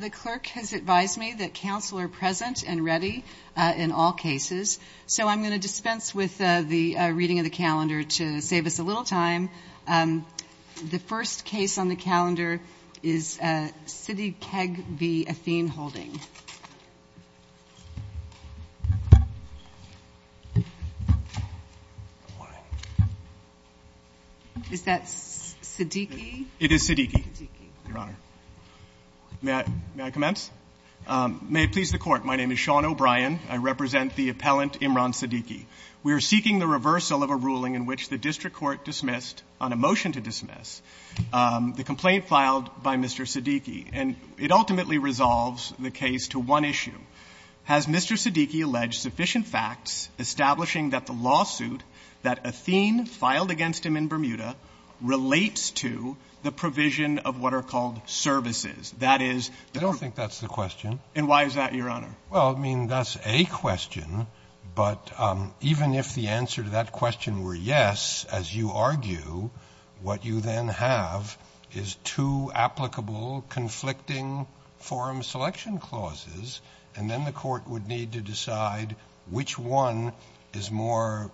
The clerk has advised me that counsel are present and ready in all cases, so I'm going to dispense with the reading of the calendar to save us a little time. The first case on the calendar is Siddiqui v. Athene Holding. Is that Siddiqui? May I commence? May it please the Court, my name is Sean O'Brien, I represent the appellant Imran Siddiqui. We are seeking the reversal of a ruling in which the district court dismissed on a motion to dismiss the complaint filed by Mr. Siddiqui, and it ultimately resolves the case to one issue. Has Mr. Siddiqui alleged sufficient facts establishing that the lawsuit that Athene filed against him in Bermuda relates to the provision of what are called statutory services? I don't think that's the question. And why is that, Your Honor? Well, I mean, that's a question, but even if the answer to that question were yes, as you argue, what you then have is two applicable conflicting forum selection clauses, and then the Court would need to decide which one is more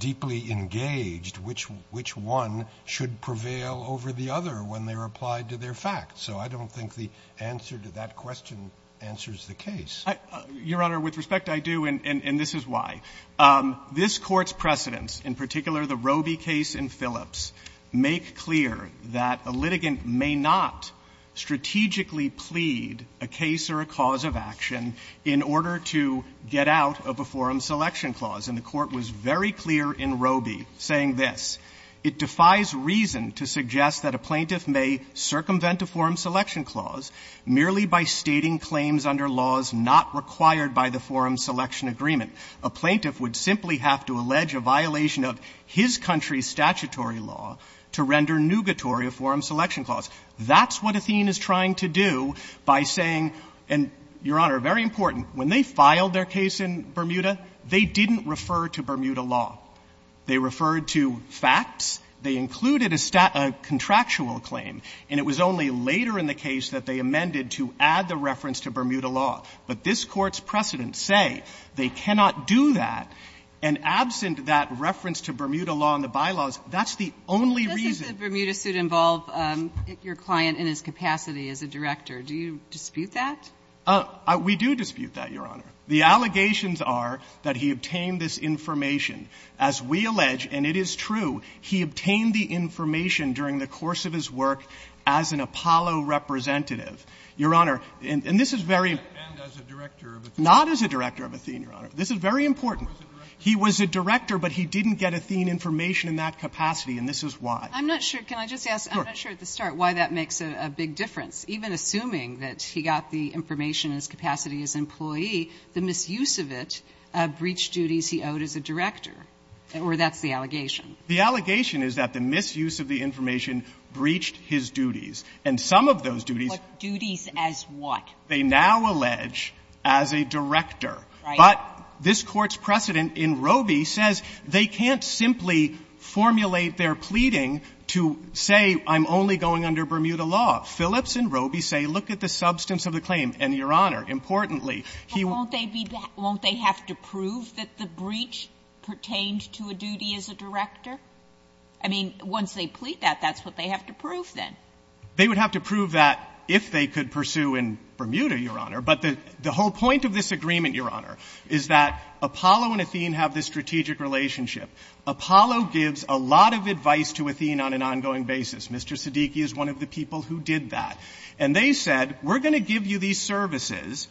deeply engaged, which one should prevail over the other when they're applied to their facts. So I don't think the answer to that question answers the case. Your Honor, with respect, I do, and this is why. This Court's precedents, in particular the Roby case in Phillips, make clear that a litigant may not strategically plead a case or a cause of action in order to get out of a forum selection clause, and the Court was very clear in Roby saying that yes, it defies reason to suggest that a plaintiff may circumvent a forum selection clause merely by stating claims under laws not required by the forum selection agreement. A plaintiff would simply have to allege a violation of his country's statutory law to render nugatory a forum selection clause. That's what Athene is trying to do by saying, and, Your Honor, very important, when they filed their case in Bermuda, they didn't refer to Bermuda law. They referred to facts. They included a contractual claim, and it was only later in the case that they amended to add the reference to Bermuda law. But this Court's precedents say they cannot do that, and absent that reference to Bermuda law in the bylaws, that's the only reason. But doesn't the Bermuda suit involve your client in his capacity as a director? Do you dispute that? We do dispute that, Your Honor. The allegations are that he obtained this information. As we allege, and it is true, he obtained the information during the course of his work as an Apollo representative. Your Honor, and this is very important. And as a director of Athene. Not as a director of Athene, Your Honor. This is very important. He was a director, but he didn't get Athene information in that capacity, and this is why. I'm not sure. Can I just ask? Sure. I'm not sure at the start why that makes a big difference. Even assuming that he got the information in his capacity as an employee, the misuse of it breached duties he owed as a director, or that's the allegation. The allegation is that the misuse of the information breached his duties. And some of those duties. But duties as what? They now allege as a director. Right. But this Court's precedent in Roby says they can't simply formulate their pleading to say I'm only going under Bermuda law. Phillips and Roby say, look at the substance of the claim, and, Your Honor, importantly, he won't be back. Won't they have to prove that the breach pertained to a duty as a director? I mean, once they plead that, that's what they have to prove then. They would have to prove that if they could pursue in Bermuda, Your Honor. But the whole point of this agreement, Your Honor, is that Apollo and Athene have this strategic relationship. Apollo gives a lot of advice to Athene on an ongoing basis. Mr. Siddiqui is one of the people who did that. And they said, we're going to give you these services,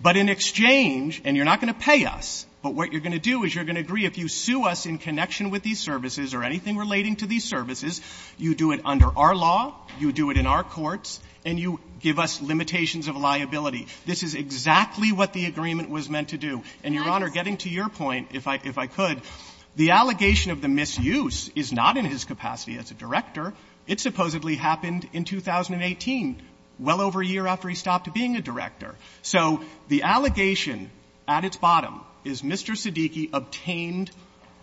but in exchange, and you're not going to pay us, but what you're going to do is you're going to agree if you sue us in connection with these services or anything relating to these services, you do it under our law, you do it in our courts, and you give us limitations of liability. This is exactly what the agreement was meant to do. And, Your Honor, getting to your point, if I could, the allegation of the misuse is not in his capacity as a director. It supposedly happened in 2018, well over a year after he stopped being a director. So the allegation at its bottom is Mr. Siddiqui obtained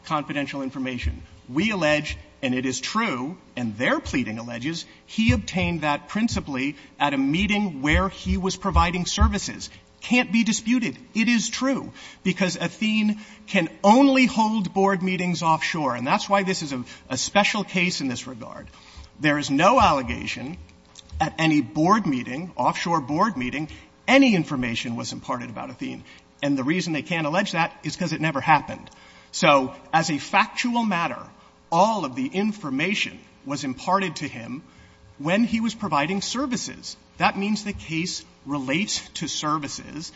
confidential information. We allege, and it is true, and their pleading alleges, he obtained that principally at a meeting where he was providing services. Can't be disputed. It is true. Because Athene can only hold board meetings offshore, and that's why this is a special case in this regard. There is no allegation at any board meeting, offshore board meeting, any information was imparted about Athene. And the reason they can't allege that is because it never happened. So as a factual matter, all of the information was imparted to him when he was providing services. That means the case relates to services.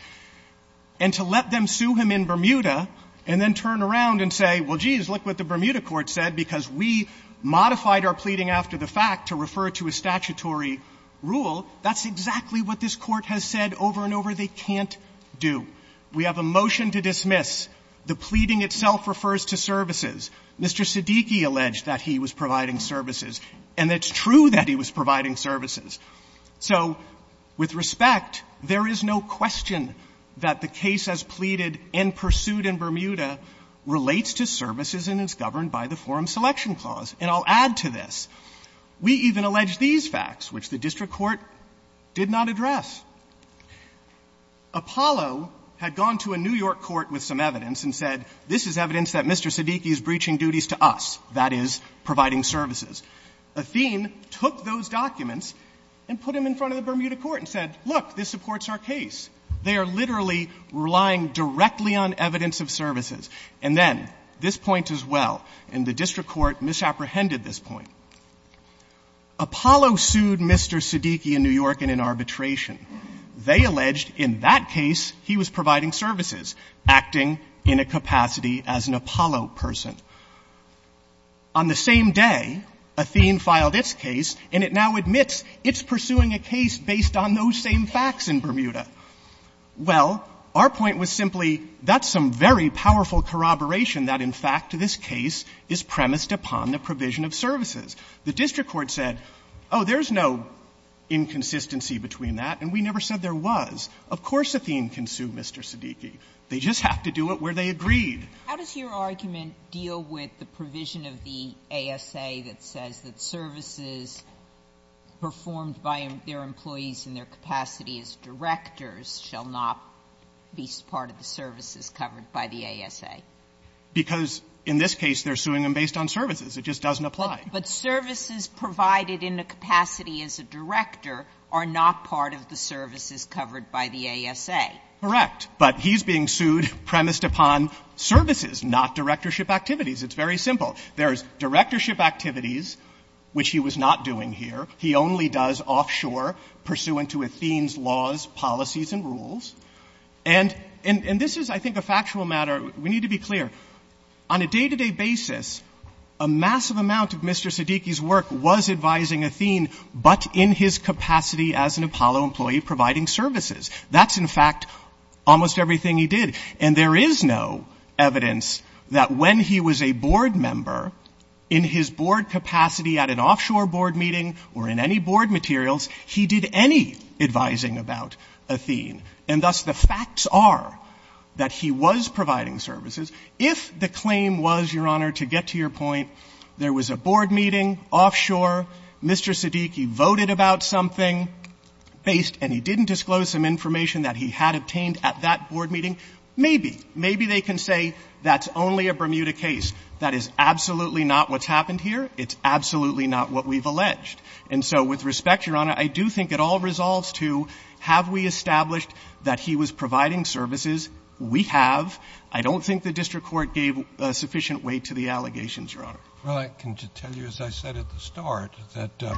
And to let them sue him in Bermuda and then turn around and say, well, geez, look at what the Bermuda court said, because we modified our pleading after the fact to refer to a statutory rule, that's exactly what this Court has said over and over. They can't do. We have a motion to dismiss. The pleading itself refers to services. Mr. Siddiqui alleged that he was providing services. And it's true that he was providing services. So with respect, there is no question that the case as pleaded and pursued in Bermuda relates to services and is governed by the Forum Selection Clause. And I'll add to this. We even allege these facts, which the district court did not address. Apollo had gone to a New York court with some evidence and said, this is evidence that Mr. Siddiqui is breaching duties to us, that is, providing services. Athene took those documents and put them in front of the Bermuda court and said, look, this supports our case. They are literally relying directly on evidence of services. And then, this point as well, and the district court misapprehended this point. Apollo sued Mr. Siddiqui in New York and in arbitration. They alleged in that case he was providing services, acting in a capacity as an Apollo person. On the same day, Athene filed its case, and it now admits it's pursuing a case based on those same facts in Bermuda. Well, our point was simply, that's some very powerful corroboration that, in fact, this case is premised upon the provision of services. The district court said, oh, there's no inconsistency between that, and we never said there was. Of course Athene can sue Mr. Siddiqui. They just have to do it where they agreed. Sotomayor, how does your argument deal with the provision of the ASA that says that employees in their capacity as directors shall not be part of the services covered by the ASA? Because in this case, they're suing him based on services. It just doesn't apply. But services provided in a capacity as a director are not part of the services covered by the ASA. Correct. But he's being sued premised upon services, not directorship activities. It's very simple. There's directorship activities, which he was not doing here. He only does offshore, pursuant to Athene's laws, policies, and rules. And this is, I think, a factual matter. We need to be clear. On a day-to-day basis, a massive amount of Mr. Siddiqui's work was advising Athene, but in his capacity as an Apollo employee, providing services. That's, in fact, almost everything he did. And there is no evidence that when he was a board member, in his board capacity at an offshore board meeting or in any board materials, he did any advising about Athene. And thus, the facts are that he was providing services. If the claim was, Your Honor, to get to your point, there was a board meeting offshore, Mr. Siddiqui voted about something based, and he didn't disclose some information that he had obtained at that board meeting, maybe, maybe they can say that's only a Bermuda case. That is absolutely not what's happened here. It's absolutely not what we've alleged. And so, with respect, Your Honor, I do think it all resolves to have we established that he was providing services? We have. I don't think the district court gave a sufficient weight to the allegations, Your Honor. Roberts. Well, I can tell you, as I said at the start, that the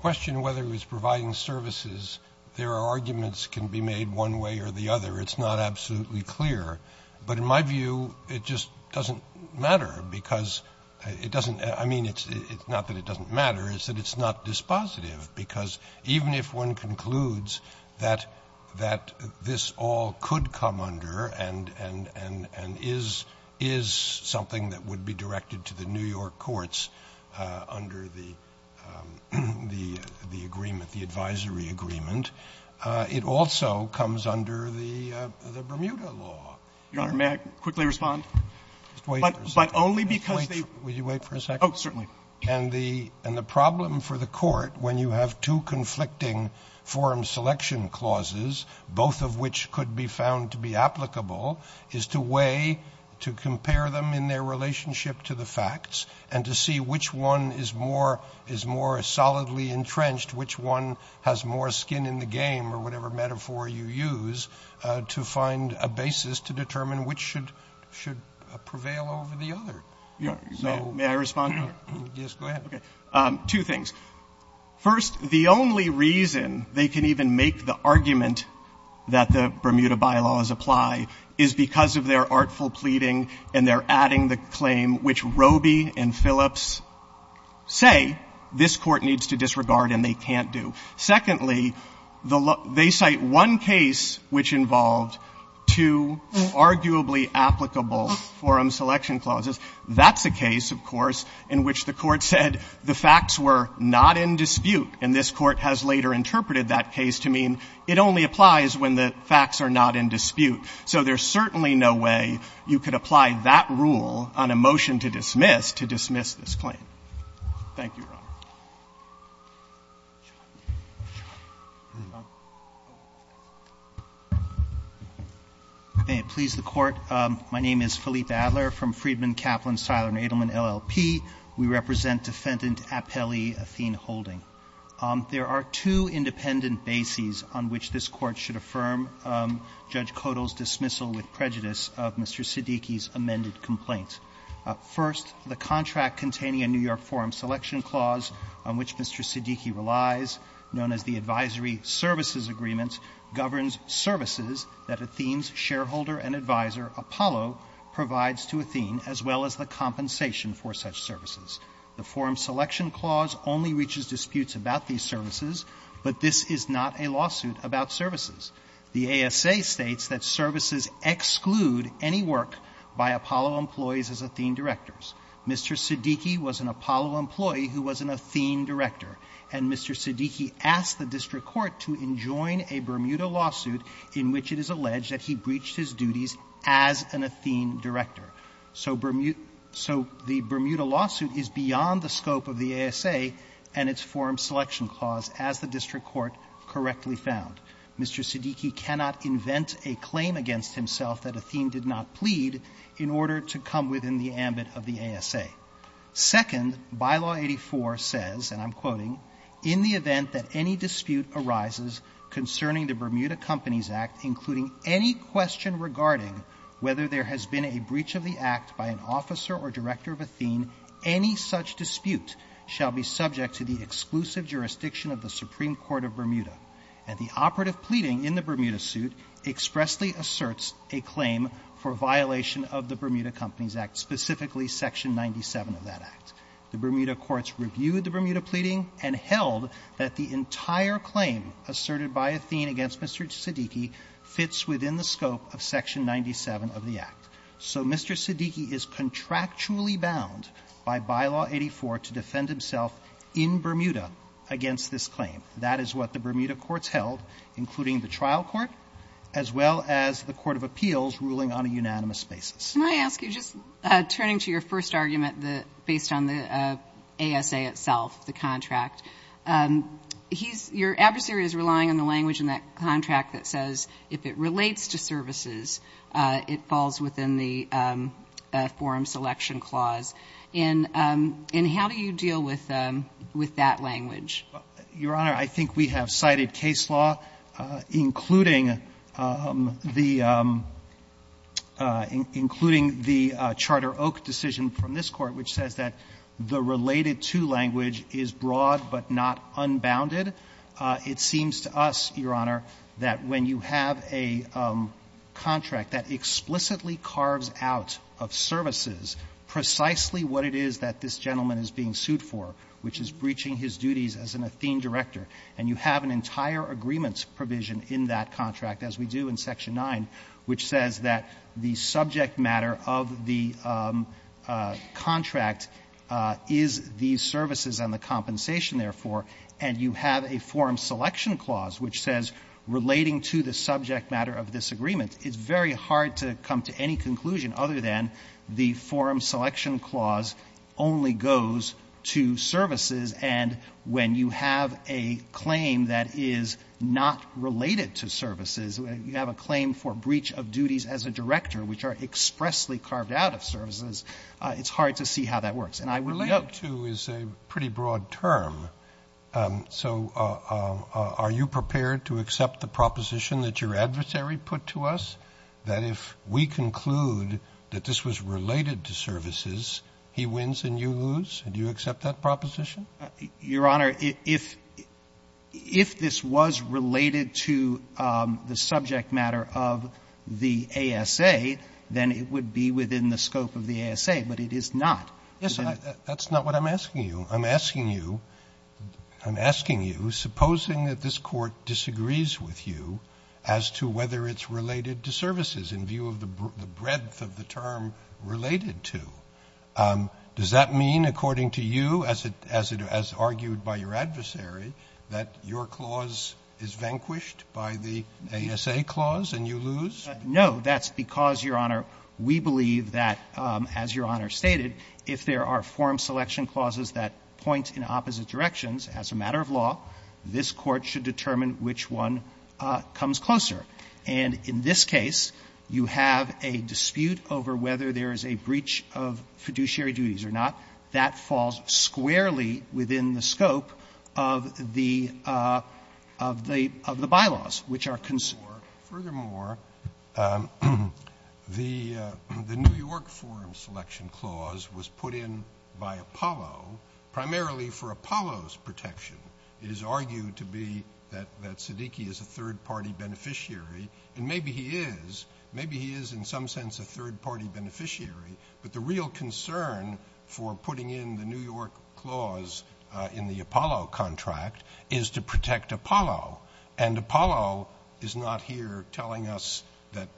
question whether he was providing services, there are arguments that can be made one way or the other. It's not absolutely clear. But in my view, it just doesn't matter because it doesn't, I mean, it's not that it doesn't matter, it's that it's not dispositive. Because even if one concludes that this all could come under and is something that would be directed to the New York courts under the agreement, the advisory agreement, it also comes under the Bermuda law. Your Honor, may I quickly respond? But only because they – Wait. Will you wait for a second? Oh, certainly. And the problem for the Court, when you have two conflicting forum selection clauses, both of which could be found to be applicable, is to weigh, to compare them in their relationship to the facts and to see which one is more solidly entrenched, which one has more skin in the game or whatever metaphor you use, to find a basis to determine which should prevail over the other. Your Honor, may I respond? Yes, go ahead. Two things. First, the only reason they can even make the argument that the Bermuda bylaws apply is because of their artful pleading and their adding the claim which Roby and I have heard, and they can't do. Secondly, they cite one case which involved two arguably applicable forum selection clauses. That's a case, of course, in which the Court said the facts were not in dispute. And this Court has later interpreted that case to mean it only applies when the facts are not in dispute. So there's certainly no way you could apply that rule on a motion to dismiss to dismiss this claim. Thank you, Your Honor. May it please the Court. My name is Philippe Adler from Friedman, Kaplan, Seiler, and Edelman, LLP. We represent Defendant Apelli Athene-Holding. There are two independent bases on which this Court should affirm Judge Codol's dismissal with prejudice of Mr. Siddiqi's amended complaint. First, the contract containing a New York forum selection clause on which Mr. Siddiqi relies, known as the advisory services agreement, governs services that Athene's shareholder and advisor, Apollo, provides to Athene, as well as the compensation for such services. The forum selection clause only reaches disputes about these services, but this is not a lawsuit about services. The ASA states that services exclude any work by Apollo employees as Athene directors. Mr. Siddiqi was an Apollo employee who was an Athene director, and Mr. Siddiqi asked the district court to enjoin a Bermuda lawsuit in which it is alleged that he breached his duties as an Athene director. So Bermuda lawsuit is beyond the scope of the ASA and its forum selection clause as the district court correctly found. Mr. Siddiqi cannot invent a claim against himself that Athene did not plead in order to come within the ambit of the ASA. Second, bylaw 84 says, and I'm quoting, in the event that any dispute arises concerning the Bermuda Companies Act, including any question regarding whether there has been a breach of the act by an officer or director of Athene, any such dispute shall be subject to the exclusive jurisdiction of the Supreme Court of Congress. The cooperative pleading in the Bermuda suit expressly asserts a claim for violation of the Bermuda Companies Act, specifically section 97 of that act. The Bermuda courts reviewed the Bermuda pleading and held that the entire claim asserted by Athene against Mr. Siddiqi fits within the scope of section 97 of the act. So Mr. Siddiqi is contractually bound by bylaw 84 to defend himself in Bermuda against this claim. That is what the Bermuda courts held, including the trial court, as well as the court of appeals ruling on a unanimous basis. Can I ask you, just turning to your first argument, based on the ASA itself, the contract, he's, your adversary is relying on the language in that contract that says if it relates to services, it falls within the forum selection clause. And how do you deal with that language? Your Honor, I think we have cited case law, including the, including the Charter Oak decision from this Court, which says that the related to language is broad, but not unbounded. It seems to us, Your Honor, that when you have a contract that explicitly carves out of services precisely what it is that this gentleman is being sued for, which is breaching his duties as an Athene director, and you have an entire agreements provision in that contract, as we do in section 9, which says that the subject matter of the contract is the services and the compensation, therefore, and you have a forum selection clause which says relating to the subject matter of this agreement is very hard to come to any conclusion other than the forum selection clause only goes to services. And when you have a claim that is not related to services, you have a claim for breach of duties as a director, which are expressly carved out of services, it's hard to see how that works. And I would— Related to is a pretty broad term. So are you prepared to accept the proposition that your adversary put to us, that if we Your Honor, if this was related to the subject matter of the ASA, then it would be within the scope of the ASA, but it is not. Yes, that's not what I'm asking you. I'm asking you, I'm asking you, supposing that this Court disagrees with you as to whether it's related to services in view of the breadth of the term related to, does that mean, according to you, as argued by your adversary, that your clause is vanquished by the ASA clause and you lose? No. That's because, Your Honor, we believe that, as Your Honor stated, if there are forum selection clauses that point in opposite directions as a matter of law, this Court should determine which one comes closer. And in this case, you have a dispute over whether there is a breach of fiduciary duties or not. That falls squarely within the scope of the by-laws, which are concerned. Furthermore, the New York Forum Selection Clause was put in by Apollo primarily for Apollo's protection. It is argued to be that Siddiqui is a third-party beneficiary, and maybe he is. Maybe he is in some sense a third-party beneficiary. But the real concern for putting in the New York Clause in the Apollo contract is to protect Apollo. And Apollo is not here telling us that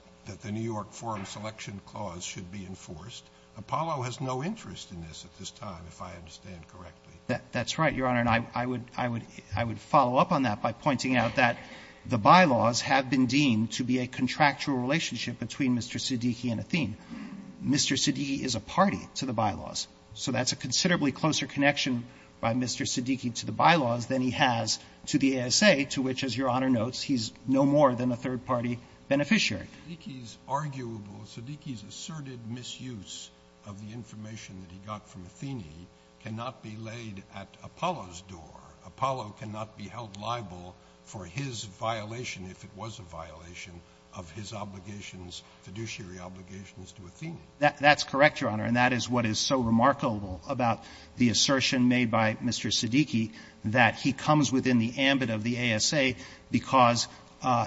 the New York Forum Selection Clause should be enforced. Apollo has no interest in this at this time, if I understand correctly. That's right, Your Honor. And I would follow up on that by pointing out that the by-laws have been deemed to be a contractual relationship between Mr. Siddiqui and Athene. Mr. Siddiqui is a party to the by-laws. So that's a considerably closer connection by Mr. Siddiqui to the by-laws than he has to the ASA, to which, as Your Honor notes, he's no more than a third-party beneficiary. Siddiqui's arguable, Siddiqui's asserted misuse of the information that he got from Athene cannot be laid at Apollo's door. Apollo cannot be held liable for his violation, if it was a violation, of his obligations, his fiduciary obligations to Athene. That's correct, Your Honor. And that is what is so remarkable about the assertion made by Mr. Siddiqui, that he comes within the ambit of the ASA because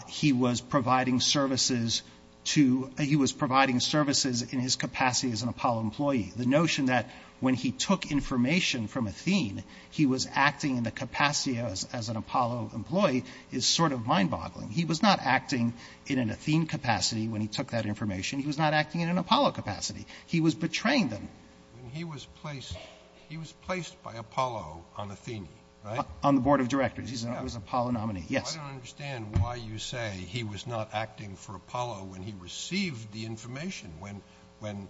he was providing services to — he was providing services in his capacity as an Apollo employee. The notion that when he took information from Athene, he was acting in the capacity as an Apollo employee is sort of mind-boggling. He was not acting in an Athene capacity when he took that information. He was not acting in an Apollo capacity. He was betraying them. He was placed by Apollo on Athene, right? On the board of directors. He was an Apollo nominee. Yes. I don't understand why you say he was not acting for Apollo when he received the information, when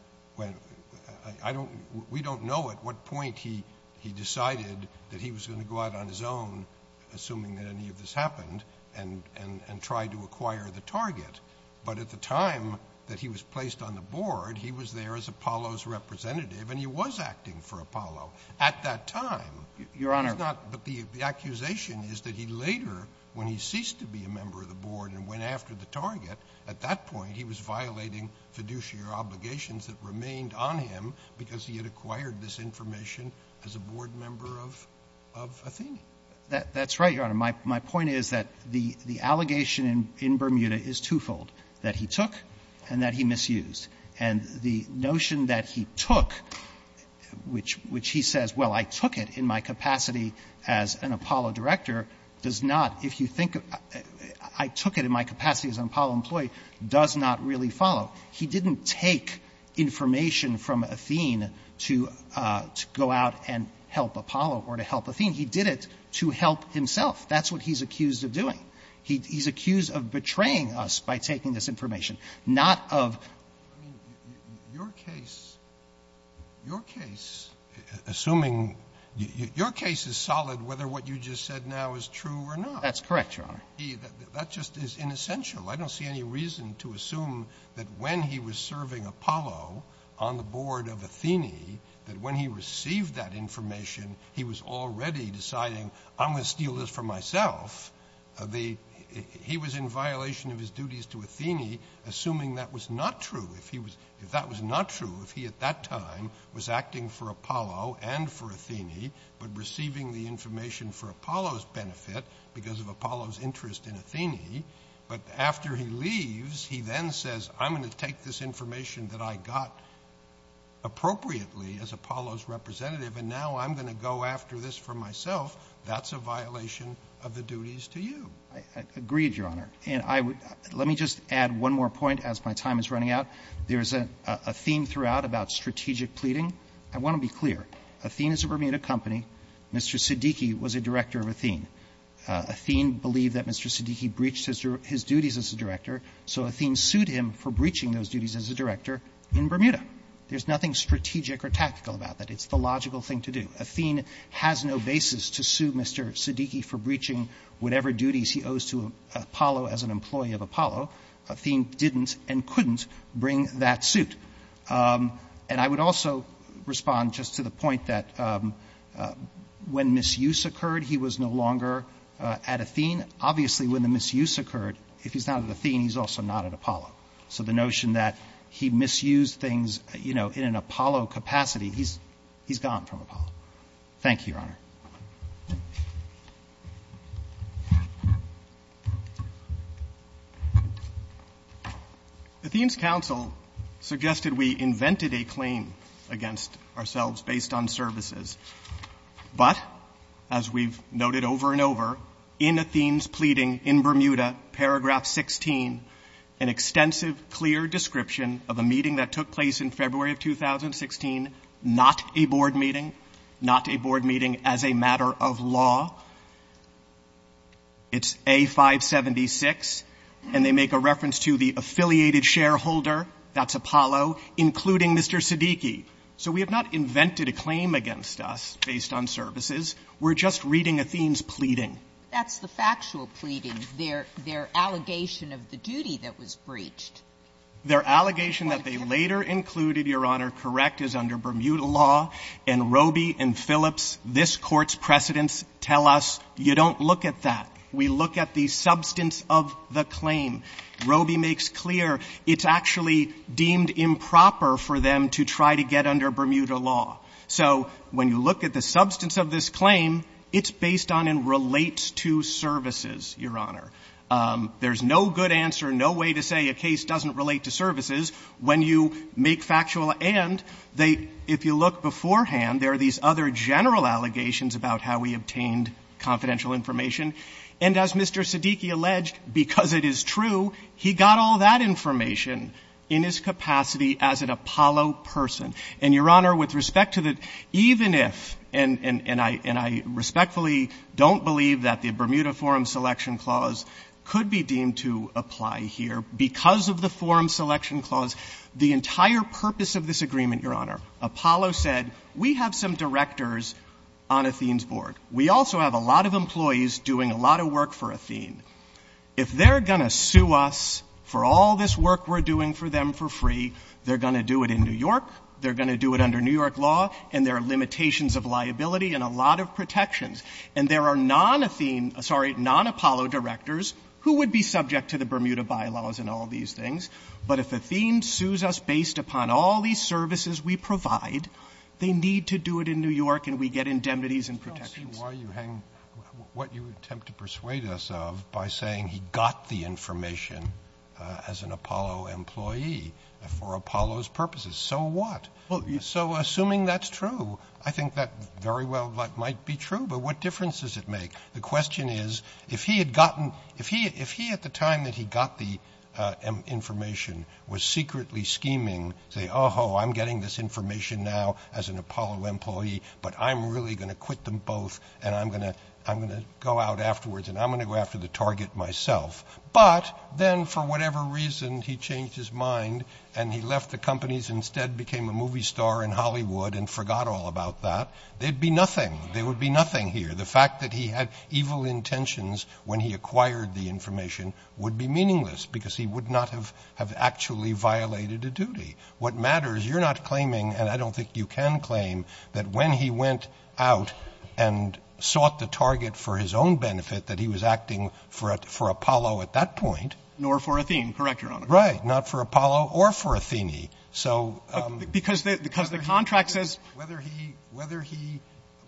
I don't — we don't know at what point he decided that he was going to go out on his own, assuming that any of this happened, and tried to acquire the target. But at the time that he was placed on the board, he was there as Apollo's representative, and he was acting for Apollo. At that time — Your Honor —— he was not — but the accusation is that he later, when he ceased to be a member of the board and went after the target, at that point he was violating fiduciary obligations that remained on him because he had acquired this information as a board member of — of Athene. That's right, Your Honor. My point is that the allegation in Bermuda is twofold, that he took and that he misused. And the notion that he took, which he says, well, I took it in my capacity as an Apollo director, does not, if you think — I took it in my capacity as an Apollo employee, does not really follow. He didn't take information from Athene to go out and help Apollo or to help Athene. He did it to help himself. That's what he's accused of doing. He's accused of betraying us by taking this information, not of — I mean, your case — your case, assuming — your case is solid whether what you just said now is true or not. That's correct, Your Honor. He — that just is inessential. I don't see any reason to assume that when he was serving Apollo on the board of Athene, that when he received that information, he was already deciding, I'm going to steal this for myself. The — he was in violation of his duties to Athene, assuming that was not true. If he was — if that was not true, if he at that time was acting for Apollo and for Athene, but after he leaves, he then says, I'm going to take this information that I got appropriately as Apollo's representative, and now I'm going to go after this for myself, that's a violation of the duties to you. I agree, Your Honor. And I would — let me just add one more point as my time is running out. There's a theme throughout about strategic pleading. I want to be clear. Athene is a Bermuda company. Mr. Siddiqui was a director of Athene. Athene believed that Mr. Siddiqui breached his duties as a director, so Athene sued him for breaching those duties as a director in Bermuda. There's nothing strategic or tactical about that. It's the logical thing to do. Athene has no basis to sue Mr. Siddiqui for breaching whatever duties he owes to Apollo as an employee of Apollo. Athene didn't and couldn't bring that suit. And I would also respond just to the point that when misuse occurred, he was no longer at Athene. Obviously, when the misuse occurred, if he's not at Athene, he's also not at Apollo. So the notion that he misused things, you know, in an Apollo capacity, he's gone from Apollo. Thank you, Your Honor. Athene's counsel suggested we invented a claim against ourselves based on services. But, as we've noted over and over, in Athene's pleading in Bermuda, paragraph 16, an extensive, clear description of a meeting that took place in February of 2016, not a board meeting, not a board meeting as a matter of law. It's A576. And they make a reference to the affiliated shareholder, that's Apollo, including Mr. Siddiqui. So we have not invented a claim against us based on services. We're just reading Athene's pleading. That's the factual pleading, their allegation of the duty that was breached. Their allegation that they later included, Your Honor, correct, is under Bermuda law. And Roby and Phillips, this Court's precedents, tell us you don't look at that. We look at the substance of the claim. Roby makes clear it's actually deemed improper for them to try to get under Bermuda law. So when you look at the substance of this claim, it's based on and relates to services, Your Honor. There's no good answer, no way to say a case doesn't relate to services when you make factual. And they, if you look beforehand, there are these other general allegations about how we obtained confidential information. And as Mr. Siddiqui alleged, because it is true, he got all that information in his capacity as an Apollo person. And, Your Honor, with respect to the, even if, and I respectfully don't believe that the Bermuda Forum Selection Clause could be deemed to apply here, because of the Forum Selection Clause, the entire purpose of this agreement, Your Honor, Apollo said, we have some directors on Athene's board. We also have a lot of employees doing a lot of work for Athene. If they're going to sue us for all this work we're doing for them for free, they're going to do it in New York, they're going to do it under New York law, and there are limitations of liability and a lot of protections. And there are non-Athene, sorry, non-Apollo directors who would be subject to the But if Athene sues us based upon all these services we provide, they need to do it in New York and we get indemnities and protections. Roberts. Why are you hanging, what you attempt to persuade us of by saying he got the information as an Apollo employee for Apollo's purposes. So what? So assuming that's true, I think that very well might be true. But what difference does it make? The question is, if he had gotten, if he, if he at the time that he got the information was secretly scheming, say, oh, ho, I'm getting this information now as an Apollo employee, but I'm really going to quit them both and I'm going to, I'm going to go out afterwards and I'm going to go after the target myself. But then for whatever reason, he changed his mind and he left the companies instead became a movie star in Hollywood and forgot all about that. They'd be nothing. There would be nothing here. The fact that he had evil intentions when he acquired the information would be meaningless because he would not have, have actually violated a duty. What matters, you're not claiming, and I don't think you can claim, that when he went out and sought the target for his own benefit, that he was acting for, for Apollo at that point. Nor for Athene, correct, Your Honor. Right. Not for Apollo or for Athene. So. Because the, because the contract says. Whether he, whether he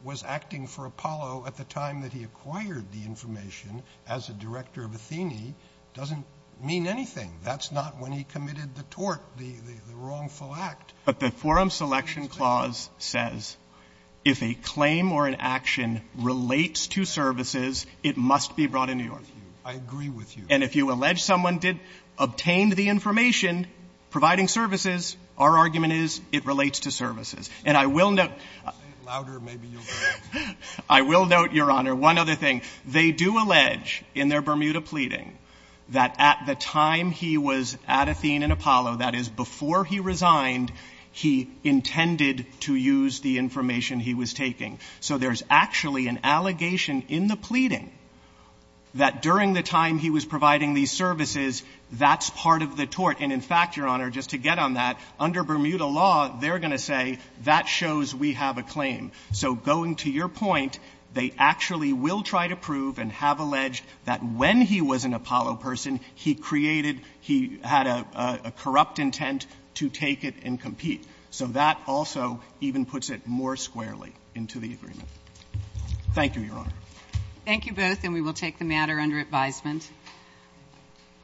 was acting for Apollo at the time that he acquired the information as a director of Athene doesn't mean anything. That's not when he committed the tort, the wrongful act. But the forum selection clause says, if a claim or an action relates to services, it must be brought in New York. I agree with you. And if you allege someone did obtain the information providing services, our argument is it relates to services. And I will note. I will note, Your Honor, one other thing. They do allege in their Bermuda pleading that at the time he was at Athene and Apollo, that is before he resigned, he intended to use the information he was taking. So there's actually an allegation in the pleading that during the time he was providing these services, that's part of the tort. And in fact, Your Honor, just to get on that, under Bermuda law, they're going to say that shows we have a claim. So going to your point, they actually will try to prove and have allege that when he was an Apollo person, he created, he had a corrupt intent to take it and compete. So that also even puts it more squarely into the agreement. Thank you, Your Honor. Thank you both. And we will take the matter under advisement.